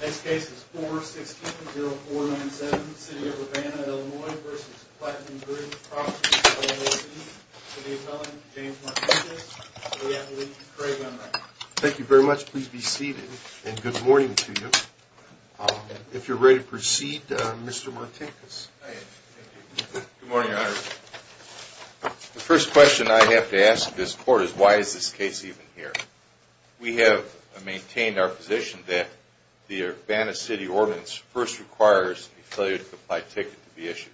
This case is 416-0497, City of Urbana, Illinois v. Platinum Group Properties, LLC for the appellant, James Martinkus, the appellate, Craig Unruh. Thank you very much. Please be seated, and good morning to you. If you're ready to proceed, Mr. Martinkus. Good morning, Your Honor. The first question I have to ask this court is, why is this case even here? We have maintained our position that the Urbana City Ordinance first requires a failure to comply ticket to be issued.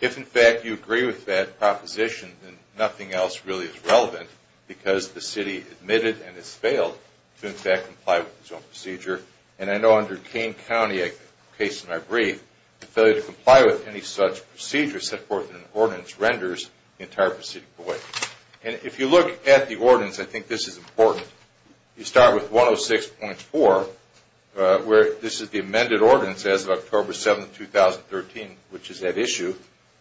If, in fact, you agree with that proposition, then nothing else really is relevant, because the city admitted and has failed to, in fact, comply with its own procedure. And I know under Kane County, a case in my brief, a failure to comply with any such procedure set forth in an ordinance renders the entire procedure void. And if you look at the ordinance, I think this is important. You start with 106.4, where this is the amended ordinance as of October 7, 2013, which is that issue.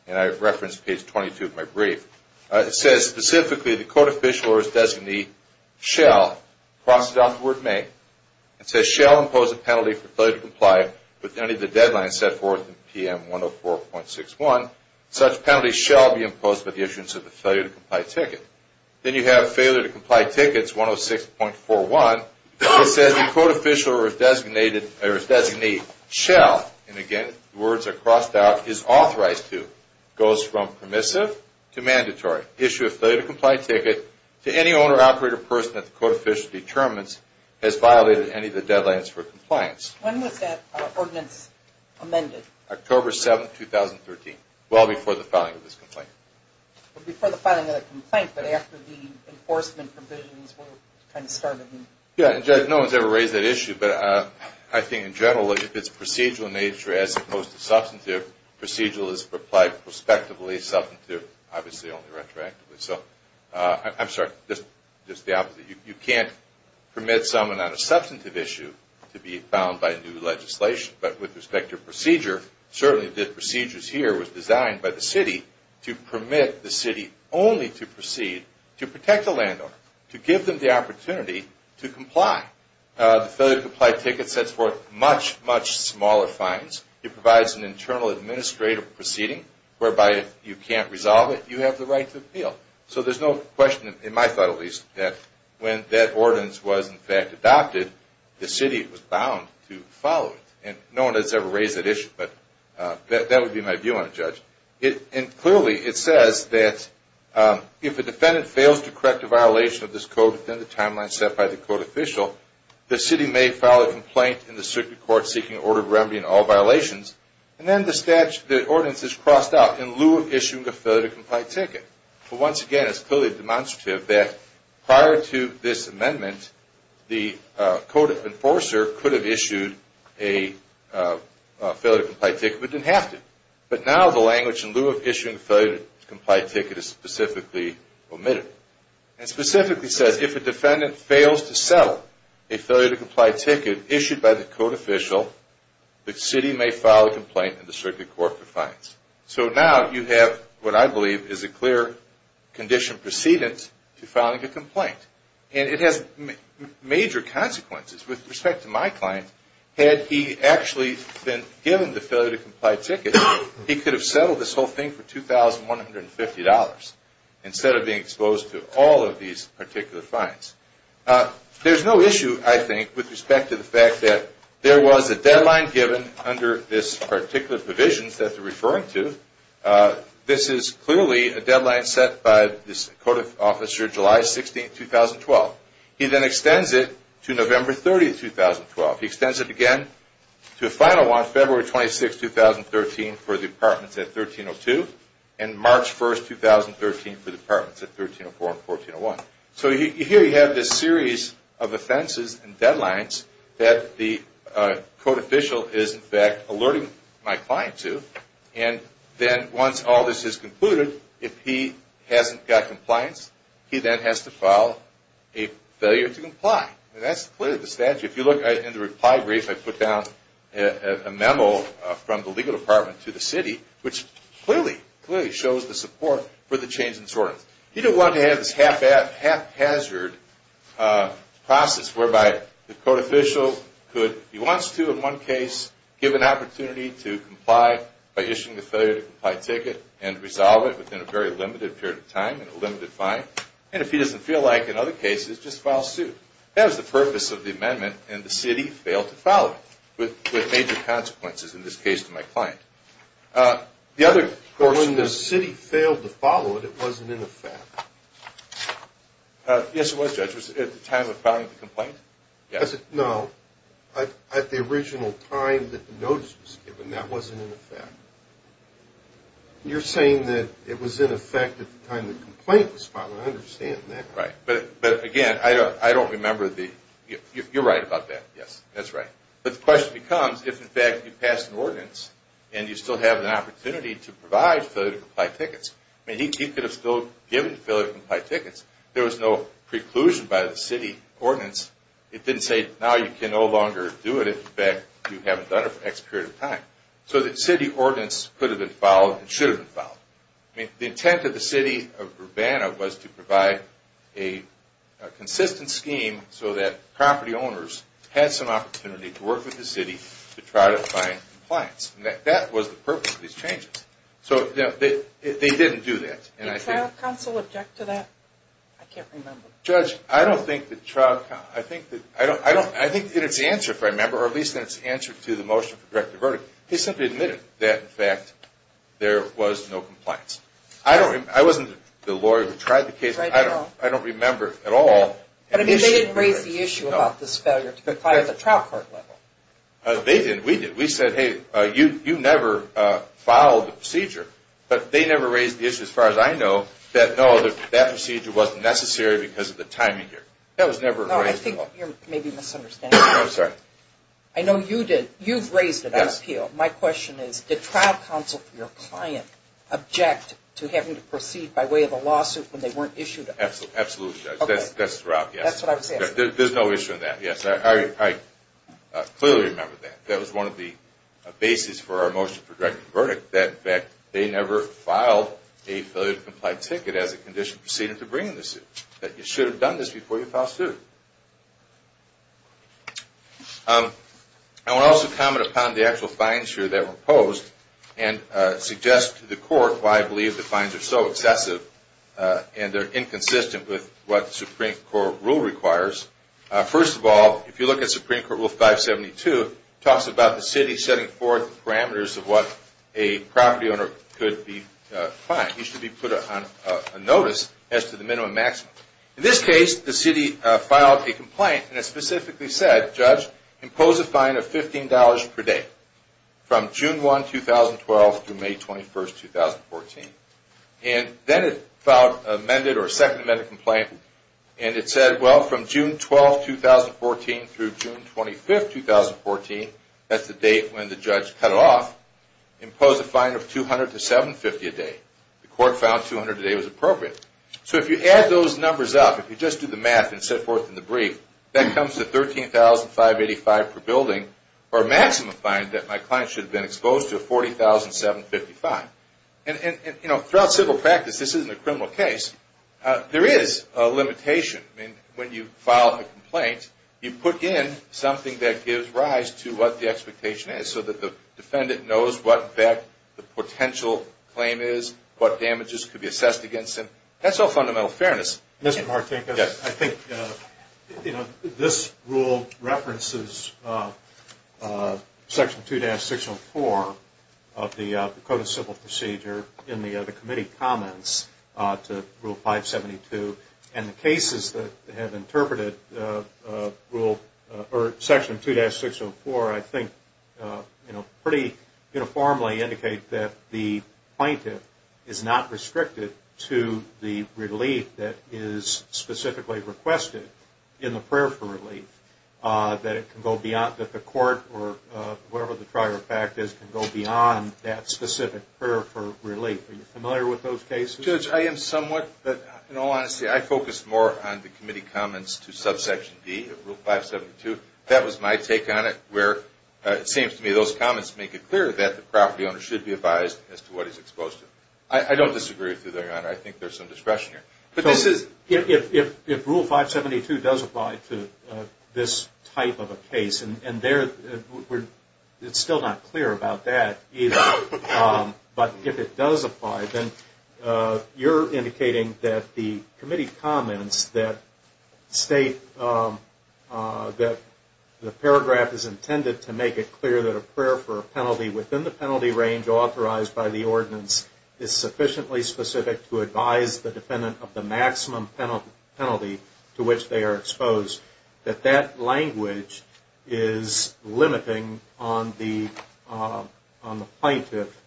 And I referenced page 22 of my brief. It says, specifically, the court official or his designee shall, cross it off the word may, and says shall impose a penalty for failure to comply with any of the deadlines set forth in PM 104.61. Such penalty shall be imposed with the issuance of the failure to comply ticket. Then you have failure to comply tickets 106.41. It says the court official or his designee shall, and again, words are crossed out, is authorized to, goes from permissive to mandatory, issue a failure to comply ticket to any owner, operator, or person that the court official determines has violated any of the deadlines for compliance. When was that ordinance amended? October 7, 2013, well before the filing of this complaint. Before the filing of the complaint, but after the enforcement provisions were kind of started. Yeah, and Judge, no one's ever raised that issue, but I think in general, if it's procedural in nature as opposed to substantive, procedural is applied prospectively. Substantive, obviously only retroactively. So, I'm sorry, just the opposite. You can't permit someone on a substantive issue to be found by new legislation. But with respect to procedure, certainly the procedures here was designed by the city to permit the city only to proceed to protect the landowner, to give them the opportunity to comply. The failure to comply ticket sets forth much, much smaller fines. It provides an internal administrative proceeding whereby if you can't resolve it, you have the right to appeal. So there's no question, in my thought at least, that when that ordinance was in fact adopted, the city was bound to follow it. And no one has ever raised that issue, but that would be my view on it, Judge. And clearly it says that if a defendant fails to correct a violation of this code within the timeline set by the code official, the city may file a complaint in the circuit court seeking order of remedy in all violations. And then the statute, the ordinance is crossed out in lieu of issuing a failure to comply ticket. But once again, it's clearly demonstrative that prior to this amendment, the code enforcer could have issued a failure to comply ticket, but didn't have to. But now the language in lieu of issuing a failure to comply ticket is specifically omitted. It specifically says if a defendant fails to settle a failure to comply ticket issued by the code official, the city may file a complaint in the circuit court for fines. So now you have what I believe is a clear condition precedence to filing a complaint. And it has major consequences. With respect to my client, had he actually been given the failure to comply ticket, he could have settled this whole thing for $2,150 instead of being exposed to all of these particular fines. There's no issue, I think, with respect to the fact that there was a deadline given under this particular provision that they're referring to. This is clearly a deadline set by this code officer, July 16, 2012. He then extends it to November 30, 2012. He extends it again to a final one, February 26, 2013, for the apartments at 1302, and March 1, 2013, for the apartments at 1304 and 1301. So here you have this series of offenses and deadlines that the code official is, in fact, alerting my client to. And then once all this is concluded, if he hasn't got compliance, he then has to file a failure to comply. And that's clearly the statute. If you look in the reply brief, I put down a memo from the legal department to the city, which clearly, clearly shows the support for the change in sorts. He didn't want to have this haphazard process whereby the code official could, if he wants to in one case, give an opportunity to comply by issuing a failure to comply ticket and resolve it within a very limited period of time and a limited fine. And if he doesn't feel like it in other cases, just file suit. That was the purpose of the amendment, and the city failed to follow it with major consequences, in this case, to my client. When the city failed to follow it, it wasn't in effect. Yes, it was, Judge. It was at the time of filing the complaint? No. At the original time that the notice was given, that wasn't in effect. You're saying that it was in effect at the time the complaint was filed. I understand that. Right. But, again, I don't remember the – you're right about that. Yes, that's right. But the question becomes, if, in fact, you pass an ordinance and you still have an opportunity to provide failure to comply tickets. I mean, he could have still given failure to comply tickets. There was no preclusion by the city ordinance. It didn't say, now you can no longer do it if, in fact, you haven't done it for X period of time. So the city ordinance could have been followed and should have been followed. I mean, the intent of the city of Urbana was to provide a consistent scheme so that property owners had some opportunity to work with the city to try to find compliance. That was the purpose of these changes. So they didn't do that. Did trial counsel object to that? I can't remember. Judge, I don't think that trial – I think in its answer, if I remember, or at least in its answer to the motion for directive verdict, they simply admitted that, in fact, there was no compliance. I wasn't the lawyer who tried the case. I don't remember at all. But I mean, they didn't raise the issue about this failure to comply at the trial court level. They didn't. We did. We said, hey, you never followed the procedure. But they never raised the issue, as far as I know, that, no, that procedure wasn't necessary because of the timing here. That was never raised. No, I think you're maybe misunderstanding. No, I'm sorry. I know you did. You've raised it on appeal. My question is, did trial counsel for your client object to having to proceed by way of a lawsuit when they weren't issued an appeal? Absolutely, Judge. That's the route, yes. That's what I'm saying. There's no issue in that, yes. I clearly remember that. That was one of the bases for our motion for directive verdict, that, in fact, they never filed a failure to comply ticket as a condition preceded to bringing the suit, that you should have done this before you filed suit. I would also comment upon the actual fines here that were imposed and suggest to the court why I believe the fines are so excessive and they're inconsistent with what the Supreme Court rule requires. First of all, if you look at Supreme Court Rule 572, it talks about the city setting forth the parameters of what a property owner could be fined. He should be put on notice as to the minimum and maximum. In this case, the city filed a complaint and it specifically said, Judge, impose a fine of $15 per day from June 1, 2012, through May 21, 2014. Then it filed a second amendment complaint and it said, well, from June 12, 2014, through June 25, 2014, that's the date when the judge cut off, impose a fine of $200 to $750 a day. The court found $200 a day was appropriate. If you add those numbers up, if you just do the math and set forth in the brief, that comes to $13,585 per building, or a maximum fine that my client should have been exposed to, $40,755. Throughout civil practice, this isn't a criminal case, there is a limitation. When you file a complaint, you put in something that gives rise to what the expectation is so that the defendant knows what the potential claim is, what damages could be assessed against him. That's all fundamental fairness. Mr. Martinkus, I think this rule references Section 2-604 of the Code of Civil Procedure in the committee comments to Rule 572, and the cases that have interpreted Section 2-604, I think, pretty uniformly indicate that the plaintiff is not restricted to the relief that is specifically requested in the prayer for relief. That the court, or whatever the prior fact is, can go beyond that specific prayer for relief. Are you familiar with those cases? Judge, I am somewhat, but in all honesty, I focus more on the committee comments to Subsection D of Rule 572. That was my take on it, where it seems to me those comments make it clear that the property owner should be advised as to what he is exposed to. I don't disagree with you there, Your Honor. I think there is some discretion here. If Rule 572 does apply to this type of a case, and it's still not clear about that either, but if it does apply, then you're indicating that the committee comments that state that the paragraph is intended to make it clear that a prayer for a penalty within the penalty range authorized by the ordinance is sufficiently specific to advise the defendant of the maximum penalty to which they are exposed. That that language is limiting on the plaintiff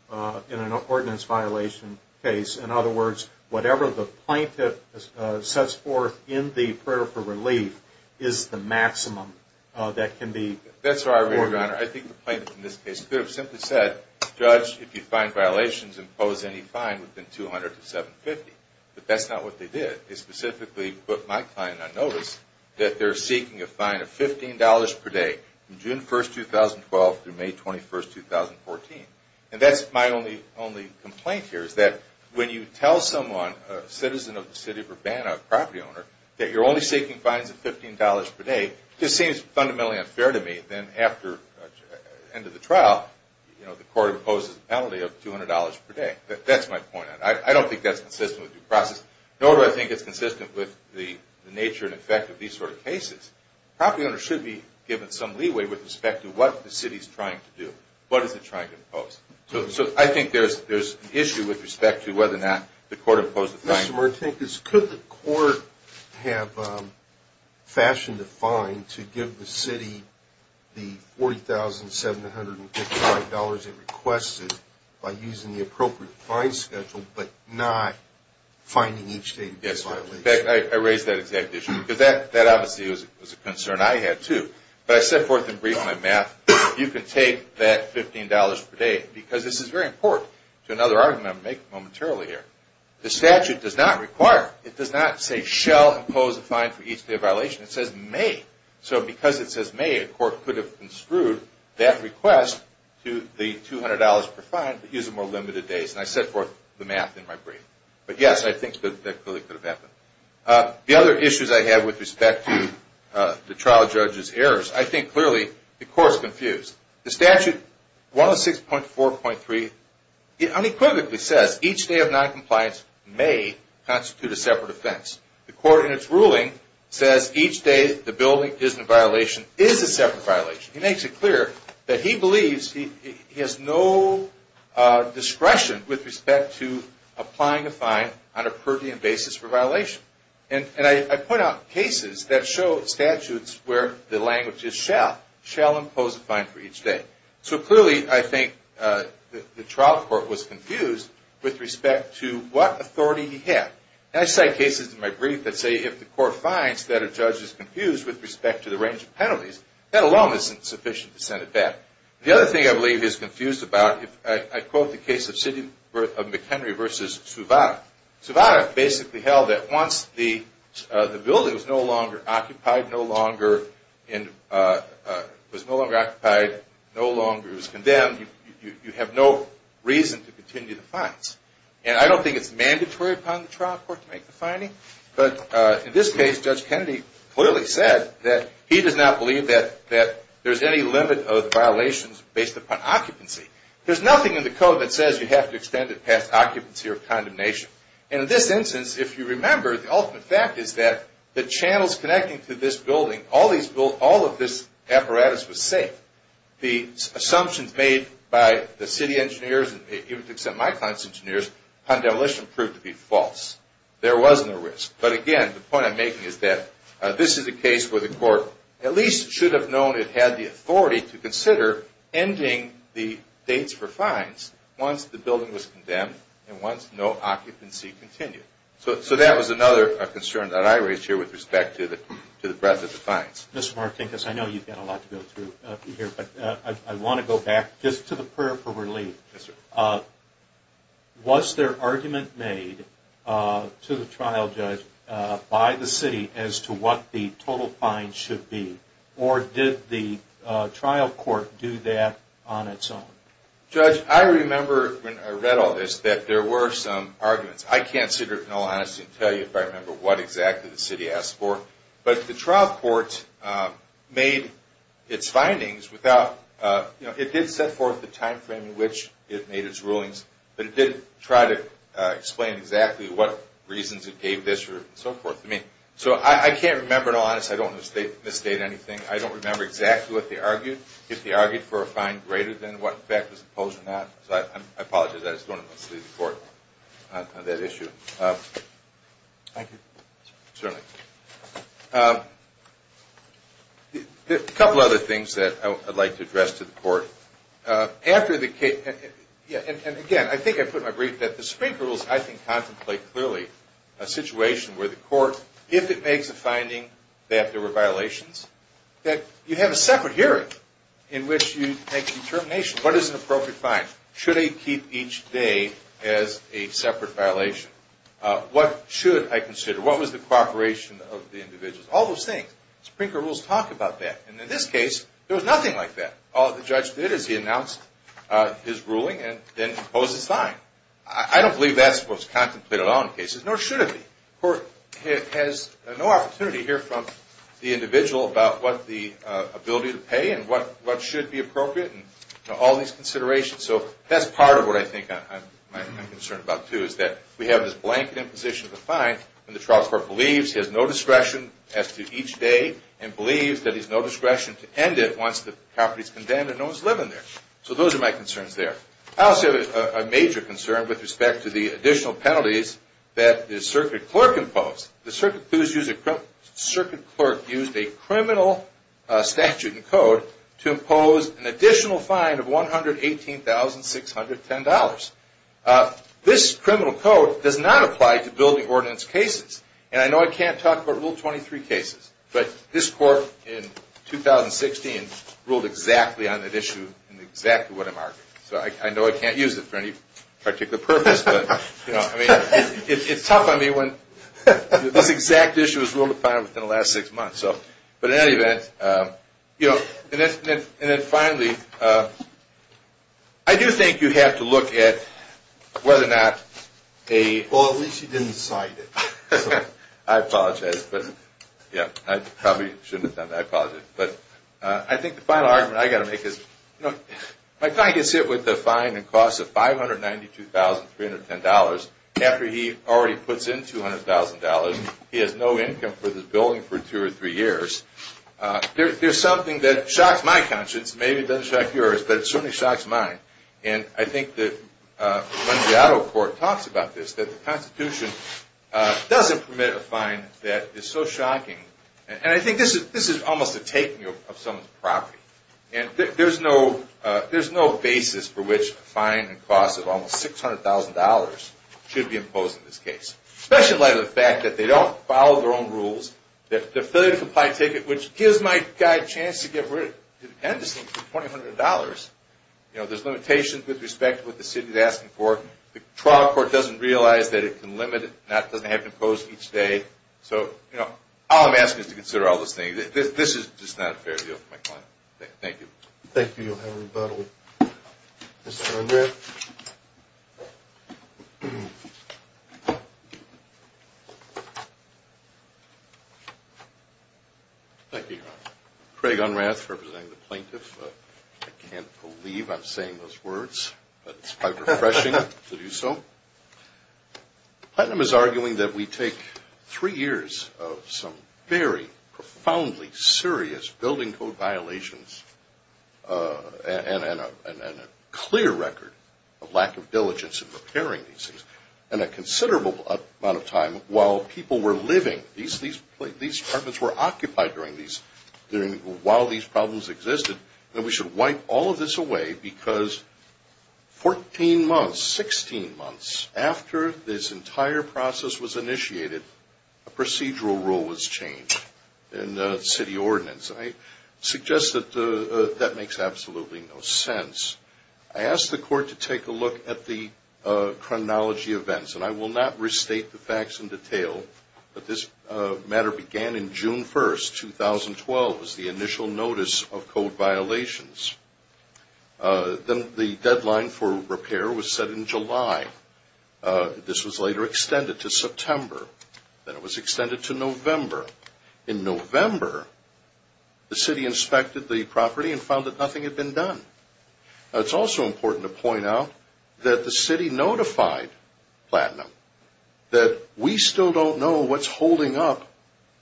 in an ordinance violation case. In other words, whatever the plaintiff sets forth in the prayer for relief is the maximum that can be... That's right, Your Honor. I think the plaintiff in this case could have simply said, Judge, if you find violations, impose any fine within 200 to 750. But that's not what they did. They specifically put my client on notice that they're seeking a fine of $15 per day from June 1, 2012 through May 21, 2014. And that's my only complaint here is that when you tell someone, a citizen of the city of Urbana, a property owner, that you're only seeking fines of $15 per day, it just seems fundamentally unfair to me that after the end of the trial, the court imposes a penalty of $200 per day. That's my point. I don't think that's consistent with due process. Nor do I think it's consistent with the nature and effect of these sort of cases. Property owners should be given some leeway with respect to what the city is trying to do. What is it trying to impose? So I think there's an issue with respect to whether or not the court imposed a fine. Mr. Martinez, could the court have fashioned a fine to give the city the $40,755 it requested by using the appropriate fine schedule but not finding each day to be a violation? Yes, sir. In fact, I raised that exact issue because that obviously was a concern I had too. But I set forth in brief my math. You can take that $15 per day because this is very important to another argument I'm going to make momentarily here. The statute does not require, it does not say, shall impose a fine for each day of violation. It says may. So because it says may, a court could have construed that request to the $200 per fine but using more limited days. And I set forth the math in my brief. But yes, I think that really could have happened. The other issues I have with respect to the trial judge's errors, I think clearly the court is confused. The statute, 106.4.3, unequivocally says each day of noncompliance may constitute a separate offense. The court in its ruling says each day the building is in violation is a separate violation. He makes it clear that he believes he has no discretion with respect to applying a fine on a per diem basis for violation. And I point out cases that show statutes where the language is shall. Shall impose a fine for each day. So clearly I think the trial court was confused with respect to what authority he had. And I cite cases in my brief that say if the court finds that a judge is confused with respect to the range of penalties, that alone isn't sufficient to send it back. The other thing I believe he's confused about, I quote the case of McHenry v. Suvada. Suvada basically held that once the building was no longer occupied, no longer was condemned, you have no reason to continue the fines. And I don't think it's mandatory upon the trial court to make the fining. But in this case, Judge Kennedy clearly said that he does not believe that there's any limit of violations based upon occupancy. There's nothing in the code that says you have to extend it past occupancy or condemnation. And in this instance, if you remember, the ultimate fact is that the channels connecting to this building, all of this apparatus was safe. The assumptions made by the city engineers and even to some of my clients' engineers, upon demolition proved to be false. There was no risk. But again, the point I'm making is that this is a case where the court at least should have known it had the authority to consider ending the dates for fines once the building was condemned and once no occupancy continued. So that was another concern that I raised here with respect to the breadth of the fines. Mr. Martinez, I know you've got a lot to go through here, but I want to go back just to the prayer for relief. Yes, sir. Was there argument made to the trial judge by the city as to what the total fine should be? Or did the trial court do that on its own? Judge, I remember when I read all this that there were some arguments. I can't sit here in all honesty and tell you if I remember what exactly the city asked for. But the trial court made its findings without – it did set forth the timeframe in which it made its rulings, but it didn't try to explain exactly what reasons it gave this or so forth. So I can't remember in all honesty. I don't want to misstate anything. I don't remember exactly what they argued. If they argued for a fine greater than what in fact was imposed or not. So I apologize. I just don't want to mislead the court on that issue. Thank you. Certainly. A couple other things that I'd like to address to the court. After the case – and, again, I think I put in my brief that the Supreme Court rules, I think, contemplate clearly a situation where the court, if it makes a finding that there were violations, that you have a separate hearing in which you make a determination. What is an appropriate fine? Should they keep each day as a separate violation? What should I consider? What was the cooperation of the individuals? All those things. Supreme Court rules talk about that. And in this case, there was nothing like that. All the judge did is he announced his ruling and then imposed his fine. I don't believe that's what's contemplated at all in cases, nor should it be. The court has no opportunity to hear from the individual about what the ability to pay and what should be appropriate and all these considerations. So that's part of what I think I'm concerned about, too, is that we have this blanket imposition of a fine and the trial court believes he has no discretion as to each day and believes that he has no discretion to end it once the property is condemned and no one is living there. So those are my concerns there. I also have a major concern with respect to the additional penalties that the circuit clerk imposed. The circuit clerk used a criminal statute and code to impose an additional fine of $118,610. This criminal code does not apply to building ordinance cases. And I know I can't talk about Rule 23 cases, but this court in 2016 ruled exactly on that issue and exactly what I'm arguing. So I know I can't use it for any particular purpose. It's tough on me when this exact issue was ruled upon within the last six months. But in any event, and then finally, I do think you have to look at whether or not a... Well, at least you didn't cite it. I apologize. I apologize. But I think the final argument I've got to make is my client gets hit with a fine that costs $592,310 after he already puts in $200,000. He has no income for this building for two or three years. There's something that shocks my conscience. Maybe it doesn't shock yours, but it certainly shocks mine. And I think that when the auto court talks about this, that the Constitution doesn't permit a fine that is so shocking. And I think this is almost a taking of someone's property. And there's no basis for which a fine that costs almost $600,000 should be imposed in this case, especially in light of the fact that they don't follow their own rules, that they're failure to comply ticket, which gives my guy a chance to get rid of it independently for $2,200. There's limitations with respect to what the city is asking for. The trial court doesn't realize that it can limit it. It doesn't have to be imposed each day. So, you know, all I'm asking is to consider all those things. This is just not a fair deal for my client. Thank you. Thank you, Your Honor. Rebuttal, Mr. Unrath. Thank you, Your Honor. Craig Unrath, representing the plaintiff. I can't believe I'm saying those words, but it's quite refreshing to do so. Platinum is arguing that we take three years of some very profoundly serious building code violations and a clear record of lack of diligence in repairing these things, and a considerable amount of time while people were living. These apartments were occupied while these problems existed. And we should wipe all of this away because 14 months, 16 months, after this entire process was initiated, a procedural rule was changed in the city ordinance. I suggest that that makes absolutely no sense. I asked the court to take a look at the chronology of events, and I will not restate the facts in detail, but this matter began in June 1st, 2012. It was the initial notice of code violations. Then the deadline for repair was set in July. This was later extended to September. Then it was extended to November. In November, the city inspected the property and found that nothing had been done. It's also important to point out that the city notified Platinum that we still don't know what's holding up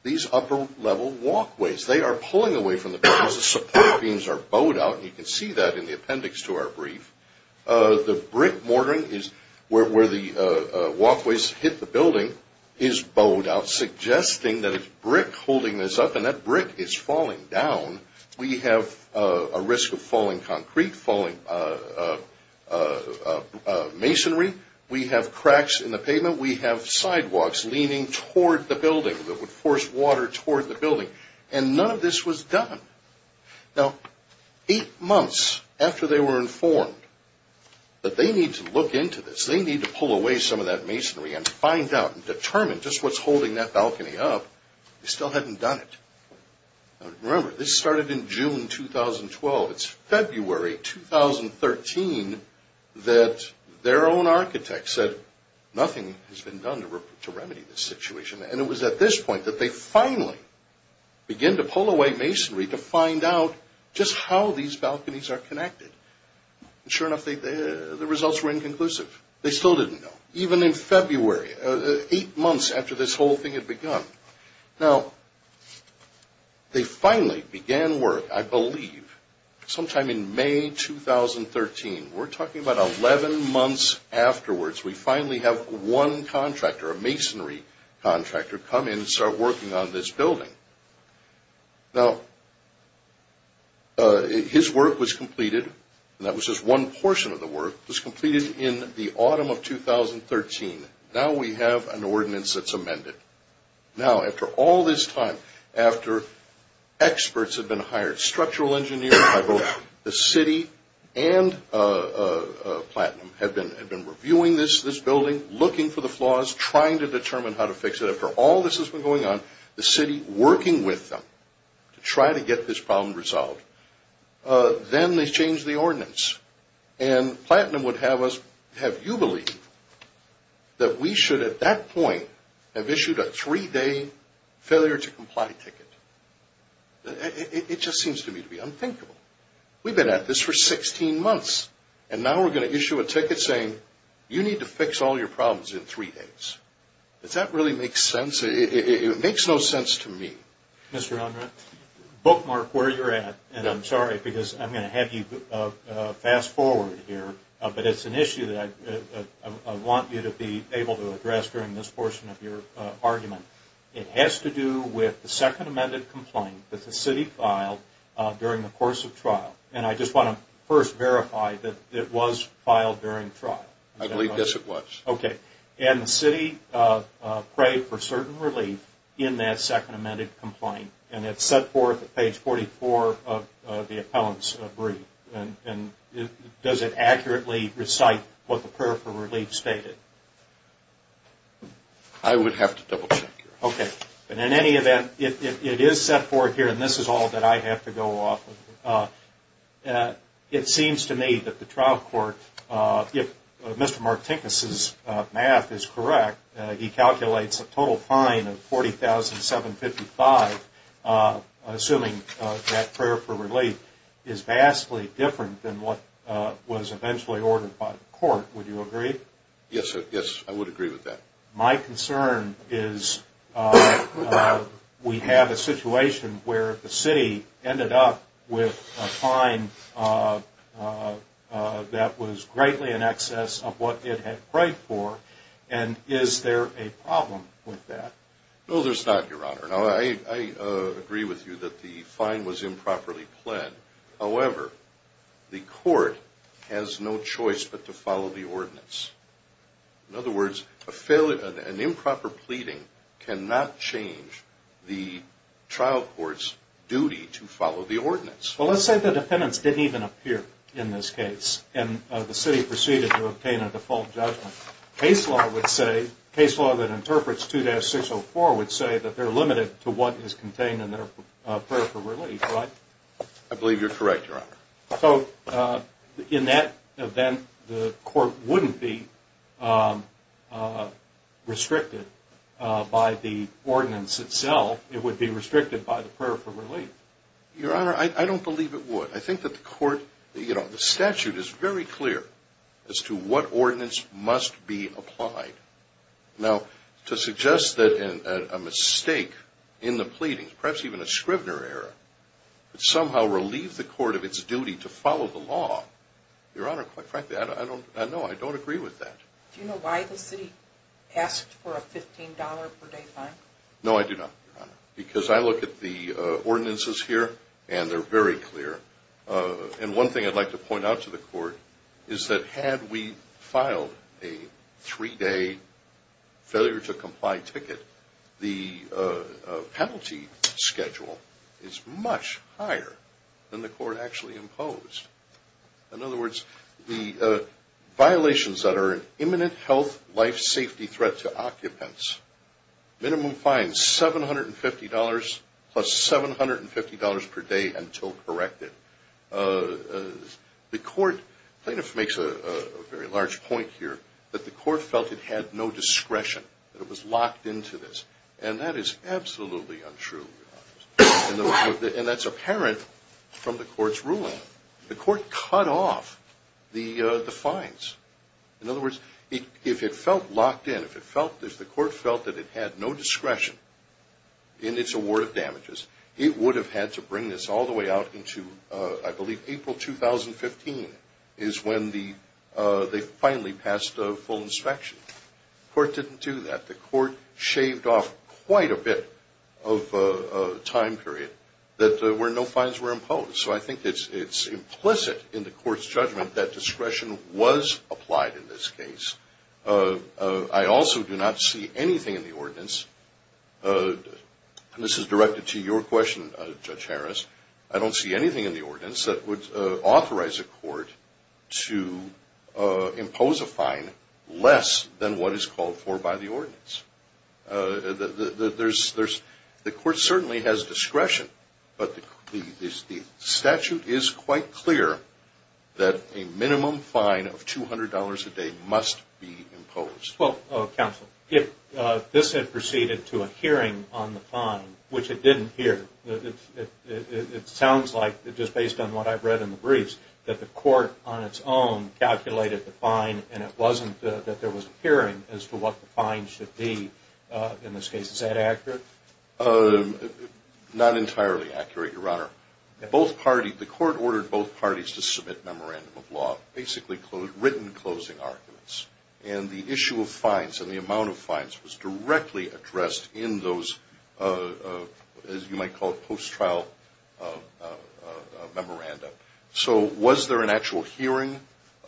these upper-level walkways. They are pulling away from the buildings. The support beams are bowed out, and you can see that in the appendix to our brief. The brick mortaring is where the walkways hit the building is bowed out, suggesting that it's brick holding this up, and that brick is falling down. We have a risk of falling concrete, falling masonry. We have cracks in the pavement. We have sidewalks leaning toward the building that would force water toward the building, and none of this was done. Now, eight months after they were informed that they need to look into this, they need to pull away some of that masonry and find out and determine just what's holding that balcony up, they still hadn't done it. Remember, this started in June 2012. It's February 2013 that their own architect said nothing has been done to remedy this situation, and it was at this point that they finally began to pull away masonry to find out just how these balconies are connected. And sure enough, the results were inconclusive. They still didn't know, even in February, eight months after this whole thing had begun. Now, they finally began work, I believe, sometime in May 2013. We're talking about 11 months afterwards. We finally have one contractor, a masonry contractor, come in and start working on this building. Now, his work was completed, and that was just one portion of the work, was completed in the autumn of 2013. Now we have an ordinance that's amended. Now, after all this time, after experts have been hired, structural engineers, both the city and Platinum have been reviewing this building, looking for the flaws, trying to determine how to fix it. After all this has been going on, the city working with them to try to get this problem resolved. Then they changed the ordinance, and Platinum would have us, have you believe, that we should, at that point, have issued a three-day failure to comply ticket. It just seems to me to be unthinkable. We've been at this for 16 months, and now we're going to issue a ticket saying, you need to fix all your problems in three days. Does that really make sense? It makes no sense to me. Mr. Unruh, bookmark where you're at, and I'm sorry, because I'm going to have you fast forward here. But it's an issue that I want you to be able to address during this portion of your argument. It has to do with the second amended complaint that the city filed during the course of trial. And I just want to first verify that it was filed during trial. I believe, yes, it was. Okay. And the city prayed for certain relief in that second amended complaint, and it's set forth at page 44 of the appellant's brief. Does it accurately recite what the prayer for relief stated? I would have to double-check. Okay. In any event, it is set forth here, and this is all that I have to go off of. It seems to me that the trial court, if Mr. Martinkus' math is correct, he calculates a total fine of $40,755, assuming that prayer for relief is vastly different than what was eventually ordered by the court. Would you agree? Yes, sir. Yes, I would agree with that. My concern is we have a situation where the city ended up with a fine that was greatly in excess of what it had prayed for. And is there a problem with that? No, there's not, Your Honor. Now, I agree with you that the fine was improperly pled. However, the court has no choice but to follow the ordinance. In other words, an improper pleading cannot change the trial court's duty to follow the ordinance. Well, let's say the defendants didn't even appear in this case, and the city proceeded to obtain a default judgment. Case law would say, case law that interprets 2-604 would say that they're limited to what is contained in their prayer for relief, right? I believe you're correct, Your Honor. So in that event, the court wouldn't be restricted by the ordinance itself. It would be restricted by the prayer for relief. Your Honor, I don't believe it would. I think that the court, you know, the statute is very clear as to what ordinance must be applied. Now, to suggest that a mistake in the pleading, perhaps even a Scrivener error, would somehow relieve the court of its duty to follow the law, Your Honor, quite frankly, I don't know. I don't agree with that. Do you know why the city asked for a $15 per day fine? No, I do not, Your Honor. Because I look at the ordinances here, and they're very clear. And one thing I'd like to point out to the court is that had we filed a three-day failure to comply ticket, the penalty schedule is much higher than the court actually imposed. In other words, the violations that are imminent health, life, safety threat to occupants, minimum fine, $750 plus $750 per day until corrected. The court, plaintiff makes a very large point here, that the court felt it had no discretion, that it was locked into this. And that is absolutely untrue, Your Honor. And that's apparent from the court's ruling. The court cut off the fines. In other words, if it felt locked in, if the court felt that it had no discretion in its award of damages, it would have had to bring this all the way out into, I believe, April 2015 is when they finally passed a full inspection. The court didn't do that. The court shaved off quite a bit of time period that no fines were imposed. So I think it's implicit in the court's judgment that discretion was applied in this case. I also do not see anything in the ordinance, and this is directed to your question, Judge Harris, I don't see anything in the ordinance that would authorize a court to impose a fine less than what is called for by the ordinance. The court certainly has discretion, but the statute is quite clear that a minimum fine of $200 a day must be imposed. Well, Counsel, if this had proceeded to a hearing on the fine, which it didn't hear, it sounds like, just based on what I've read in the briefs, that the court on its own calculated the fine and it wasn't that there was a hearing as to what the fine should be in this case. Is that accurate? Not entirely accurate, Your Honor. The court ordered both parties to submit memorandum of law, basically written closing arguments. And the issue of fines and the amount of fines was directly addressed in those, as you might call it, post-trial memoranda. So was there an actual hearing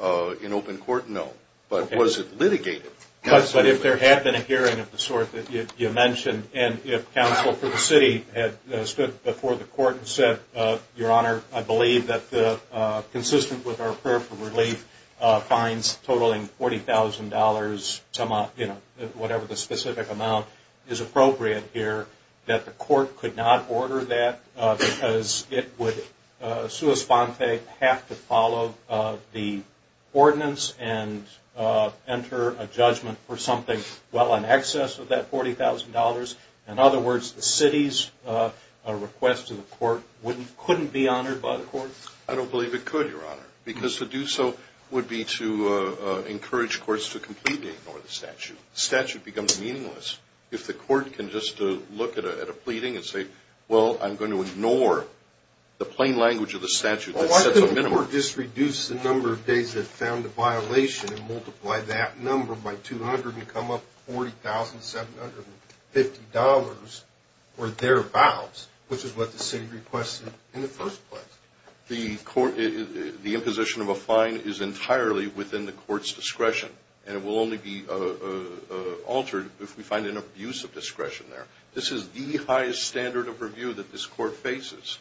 in open court? No. But was it litigated? Absolutely. But if there had been a hearing of the sort that you mentioned, and if counsel for the city had stood before the court and said, Your Honor, I believe that consistent with our prayer for relief, fines totaling $40,000, whatever the specific amount is appropriate here, that the court could not order that because it would, sua sponte, have to follow the ordinance and enter a judgment for something well in excess of that $40,000. In other words, the city's request to the court couldn't be honored by the court? I don't believe it could, Your Honor, because to do so would be to encourage courts to completely ignore the statute. The statute becomes meaningless if the court can just look at a pleading and say, well, I'm going to ignore the plain language of the statute that sets a minimum. The court just reduced the number of days it found a violation and multiplied that number by 200 and come up with $40,750 for their vows, which is what the city requested in the first place. The imposition of a fine is entirely within the court's discretion, and it will only be altered if we find an abuse of discretion there. This is the highest standard of review that this court faces.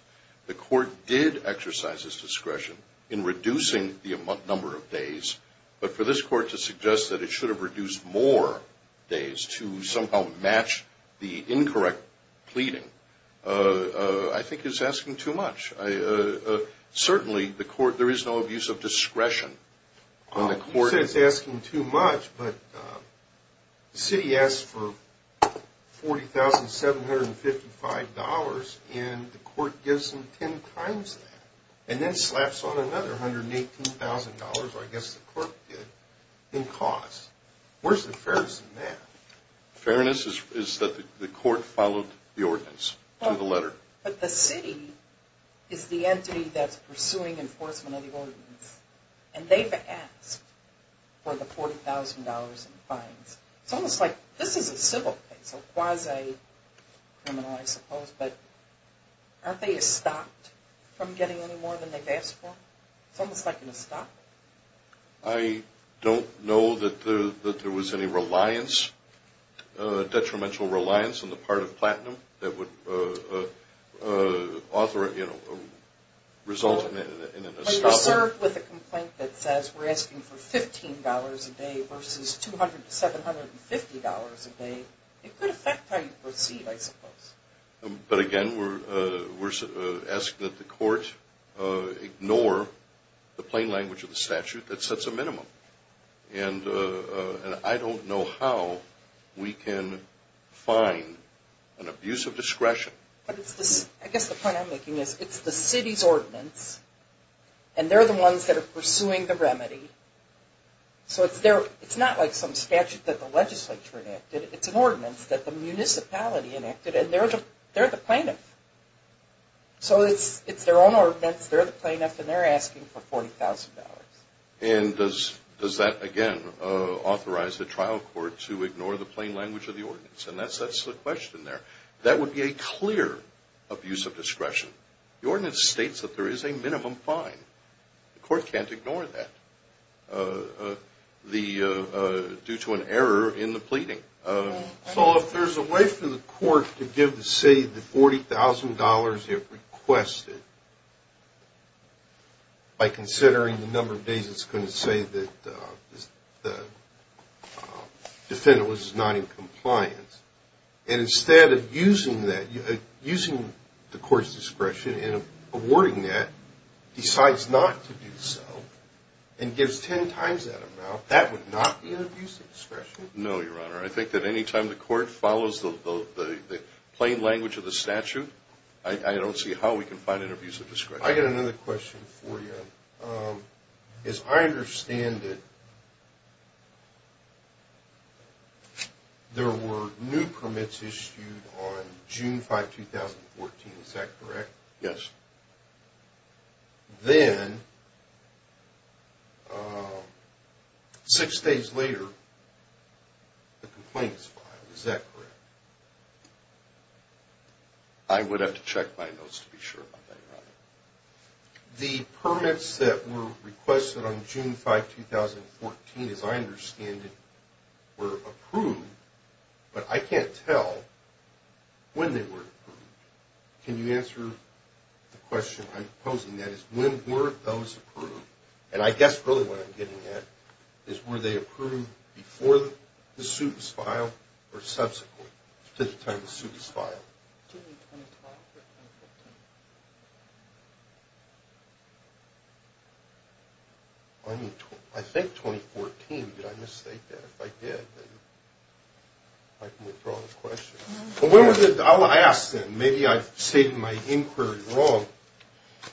The court did exercise its discretion in reducing the number of days, but for this court to suggest that it should have reduced more days to somehow match the incorrect pleading, I think is asking too much. Certainly, there is no abuse of discretion. You said it's asking too much, but the city asked for $40,755, and the court gives them 10 times that and then slaps on another $118,000, or I guess the court did, in costs. Where's the fairness in that? Fairness is that the court followed the ordinance to the letter. But the city is the entity that's pursuing enforcement of the ordinance, and they've asked for the $40,000 in fines. It's almost like this is a civil case, a quasi-criminal, I suppose, but aren't they stopped from getting any more than they've asked for? It's almost like an estoppel. I don't know that there was any detrimental reliance on the part of Platinum that would result in an estoppel. When you're served with a complaint that says we're asking for $15 a day versus $200 to $750 a day, it could affect how you proceed, I suppose. But again, we're asking that the court ignore the plain language of the statute that sets a minimum. And I don't know how we can find an abuse of discretion. I guess the point I'm making is it's the city's ordinance, and they're the ones that are pursuing the remedy. So it's not like some statute that the legislature enacted. It's an ordinance that the municipality enacted, and they're the plaintiff. So it's their own ordinance, they're the plaintiff, and they're asking for $40,000. And does that, again, authorize the trial court to ignore the plain language of the ordinance? And that sets the question there. That would be a clear abuse of discretion. The ordinance states that there is a minimum fine. The court can't ignore that due to an error in the pleading. So if there's a way for the court to give the city the $40,000 it requested, by considering the number of days it's going to say that the defendant was not in compliance, and instead of using the court's discretion in awarding that, decides not to do so, and gives 10 times that amount, that would not be an abuse of discretion. No, Your Honor. I think that any time the court follows the plain language of the statute, I don't see how we can find an abuse of discretion. I got another question for you. As I understand it, there were new permits issued on June 5, 2014. Is that correct? Yes. Then, six days later, the complaint is filed. Is that correct? I would have to check my notes to be sure about that, Your Honor. The permits that were requested on June 5, 2014, as I understand it, were approved, but I can't tell when they were approved. Can you answer the question I'm posing? That is, when were those approved? And I guess really what I'm getting at is, were they approved before the suit was filed, or subsequently, to the time the suit was filed? June 25 or 2014? I think 2014. Did I mistake that? If I did, then I can withdraw the question. I'll ask then. Maybe I've stated my inquiry wrong.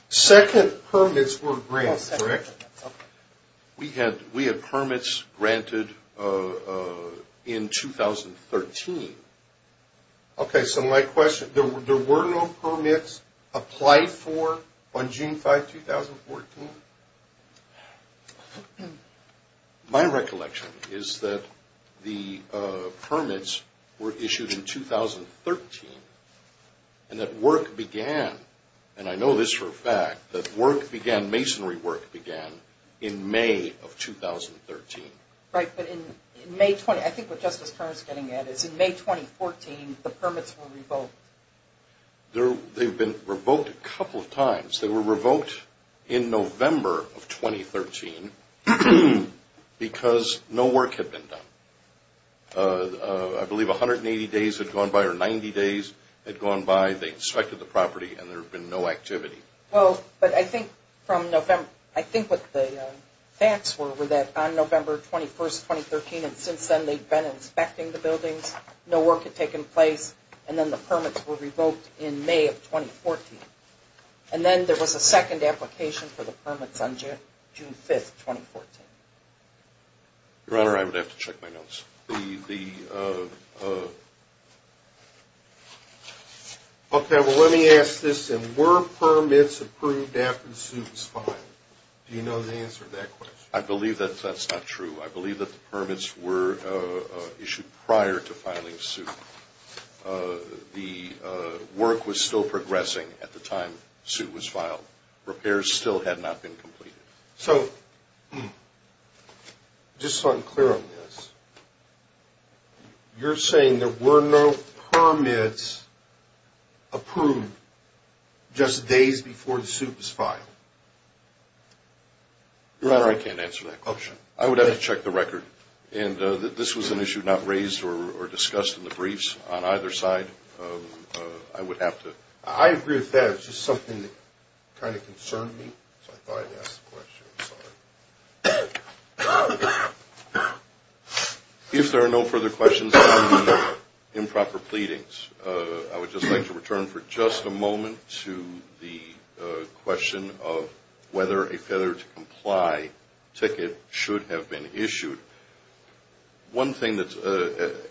Second permits were granted, correct? Oh, second permits. Okay. We had permits granted in 2013. Okay. So my question, there were no permits applied for on June 5, 2014? My recollection is that the permits were issued in 2013, and that work began, and I know this for a fact, that work began, masonry work began, in May of 2013. Right, but I think what Justice Kerr is getting at is, in May 2014, the permits were revoked. They've been revoked a couple of times. They were revoked in November of 2013 because no work had been done. I believe 180 days had gone by, or 90 days had gone by. They inspected the property, and there had been no activity. Well, but I think from November, I think what the facts were, were that on November 21, 2013, and since then they'd been inspecting the buildings, no work had taken place, and then the permits were revoked in May of 2014. And then there was a second application for the permits on June 5, 2014. Your Honor, I would have to check my notes. Okay, well, let me ask this then. Were permits approved after the suit was filed? Do you know the answer to that question? I believe that that's not true. I believe that the permits were issued prior to filing the suit. The work was still progressing at the time the suit was filed. Repairs still had not been completed. So, just so I'm clear on this, you're saying there were no permits approved just days before the suit was filed? Your Honor, I can't answer that question. I would have to check the record. And this was an issue not raised or discussed in the briefs on either side. I would have to. I agree with that. It's just something that kind of concerned me, so I thought I'd ask the question. I'm sorry. If there are no further questions on the improper pleadings, I would just like to return for just a moment to the question of whether a Feather to Comply ticket should have been issued. One thing that,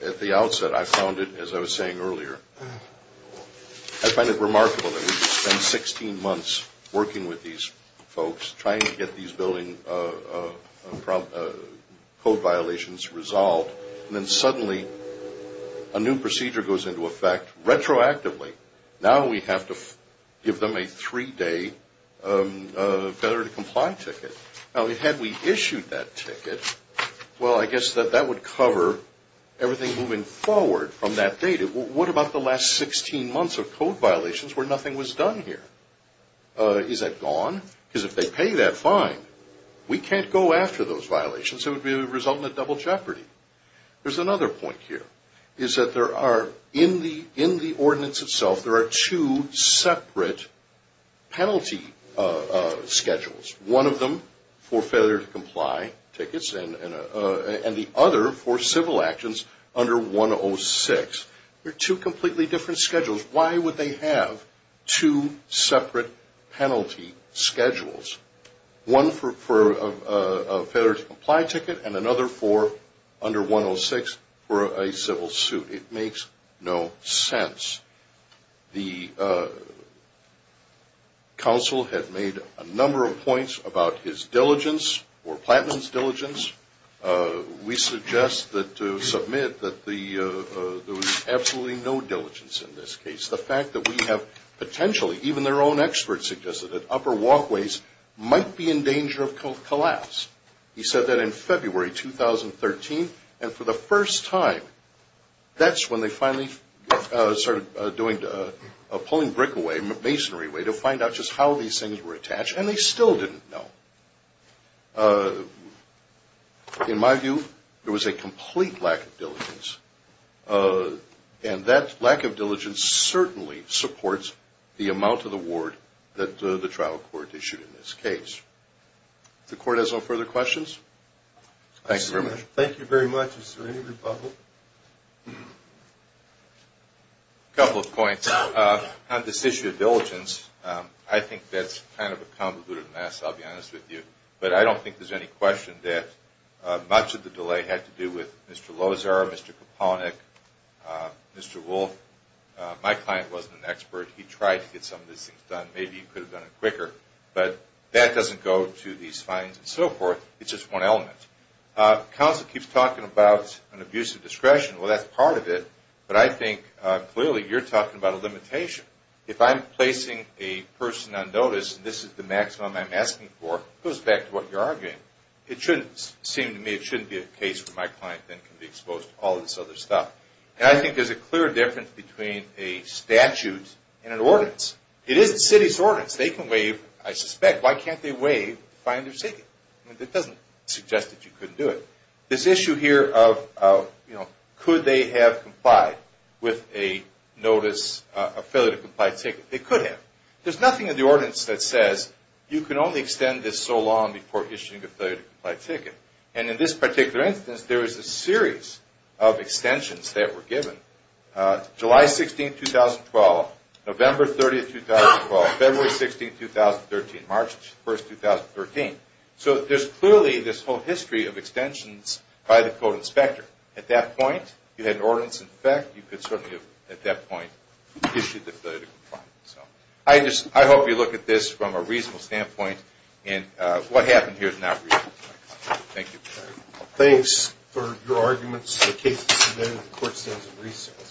at the outset, I found it, as I was saying earlier, I find it remarkable that we spent 16 months working with these folks, trying to get these building code violations resolved, and then suddenly a new procedure goes into effect retroactively. Now we have to give them a three-day Feather to Comply ticket. Now, had we issued that ticket, well, I guess that that would cover everything moving forward from that date. What about the last 16 months of code violations where nothing was done here? Is that gone? Because if they pay that fine, we can't go after those violations. It would result in a double jeopardy. There's another point here, is that there are, in the ordinance itself, there are two separate penalty schedules. One of them for Feather to Comply tickets and the other for civil actions under 106. They're two completely different schedules. Why would they have two separate penalty schedules? One for a Feather to Comply ticket and another for under 106 for a civil suit. It makes no sense. The council had made a number of points about his diligence or Plattman's diligence. We suggest that to submit that there was absolutely no diligence in this case. The fact that we have potentially, even their own experts suggested that upper walkways might be in danger of collapse. He said that in February 2013. And for the first time, that's when they finally started doing a pulling brick away, a masonry way, to find out just how these things were attached. And they still didn't know. In my view, there was a complete lack of diligence. And that lack of diligence certainly supports the amount of the ward that the trial court issued in this case. If the court has no further questions. Thank you very much. Thank you very much. Is there any rebuttal? A couple of points. On this issue of diligence, I think that's kind of a convoluted mess, I'll be honest with you. But I don't think there's any question that much of the delay had to do with Mr. Lozar, Mr. Kaponik, Mr. Wolfe. My client wasn't an expert. Maybe he could have done it quicker. But that doesn't go to these findings and so forth. It's just one element. Counsel keeps talking about an abuse of discretion. Well, that's part of it. But I think, clearly, you're talking about a limitation. If I'm placing a person on notice, and this is the maximum I'm asking for, it goes back to what you're arguing. It shouldn't seem to me, it shouldn't be a case where my client then can be exposed to all this other stuff. And I think there's a clear difference between a statute and an ordinance. It is the city's ordinance. They can waive, I suspect. Why can't they waive to find their ticket? It doesn't suggest that you couldn't do it. This issue here of could they have complied with a notice, a failure to comply ticket. They could have. There's nothing in the ordinance that says you can only extend this so long before issuing a failure to comply ticket. July 16, 2012, November 30, 2012, February 16, 2013, March 1, 2013. So there's clearly this whole history of extensions by the code inspector. At that point, you had an ordinance in effect. You could certainly have, at that point, issued the failure to comply. I hope you look at this from a reasonable standpoint. And what happened here is not reasonable. Thank you. Thanks for your arguments. The case is submitted. The court stands at recess.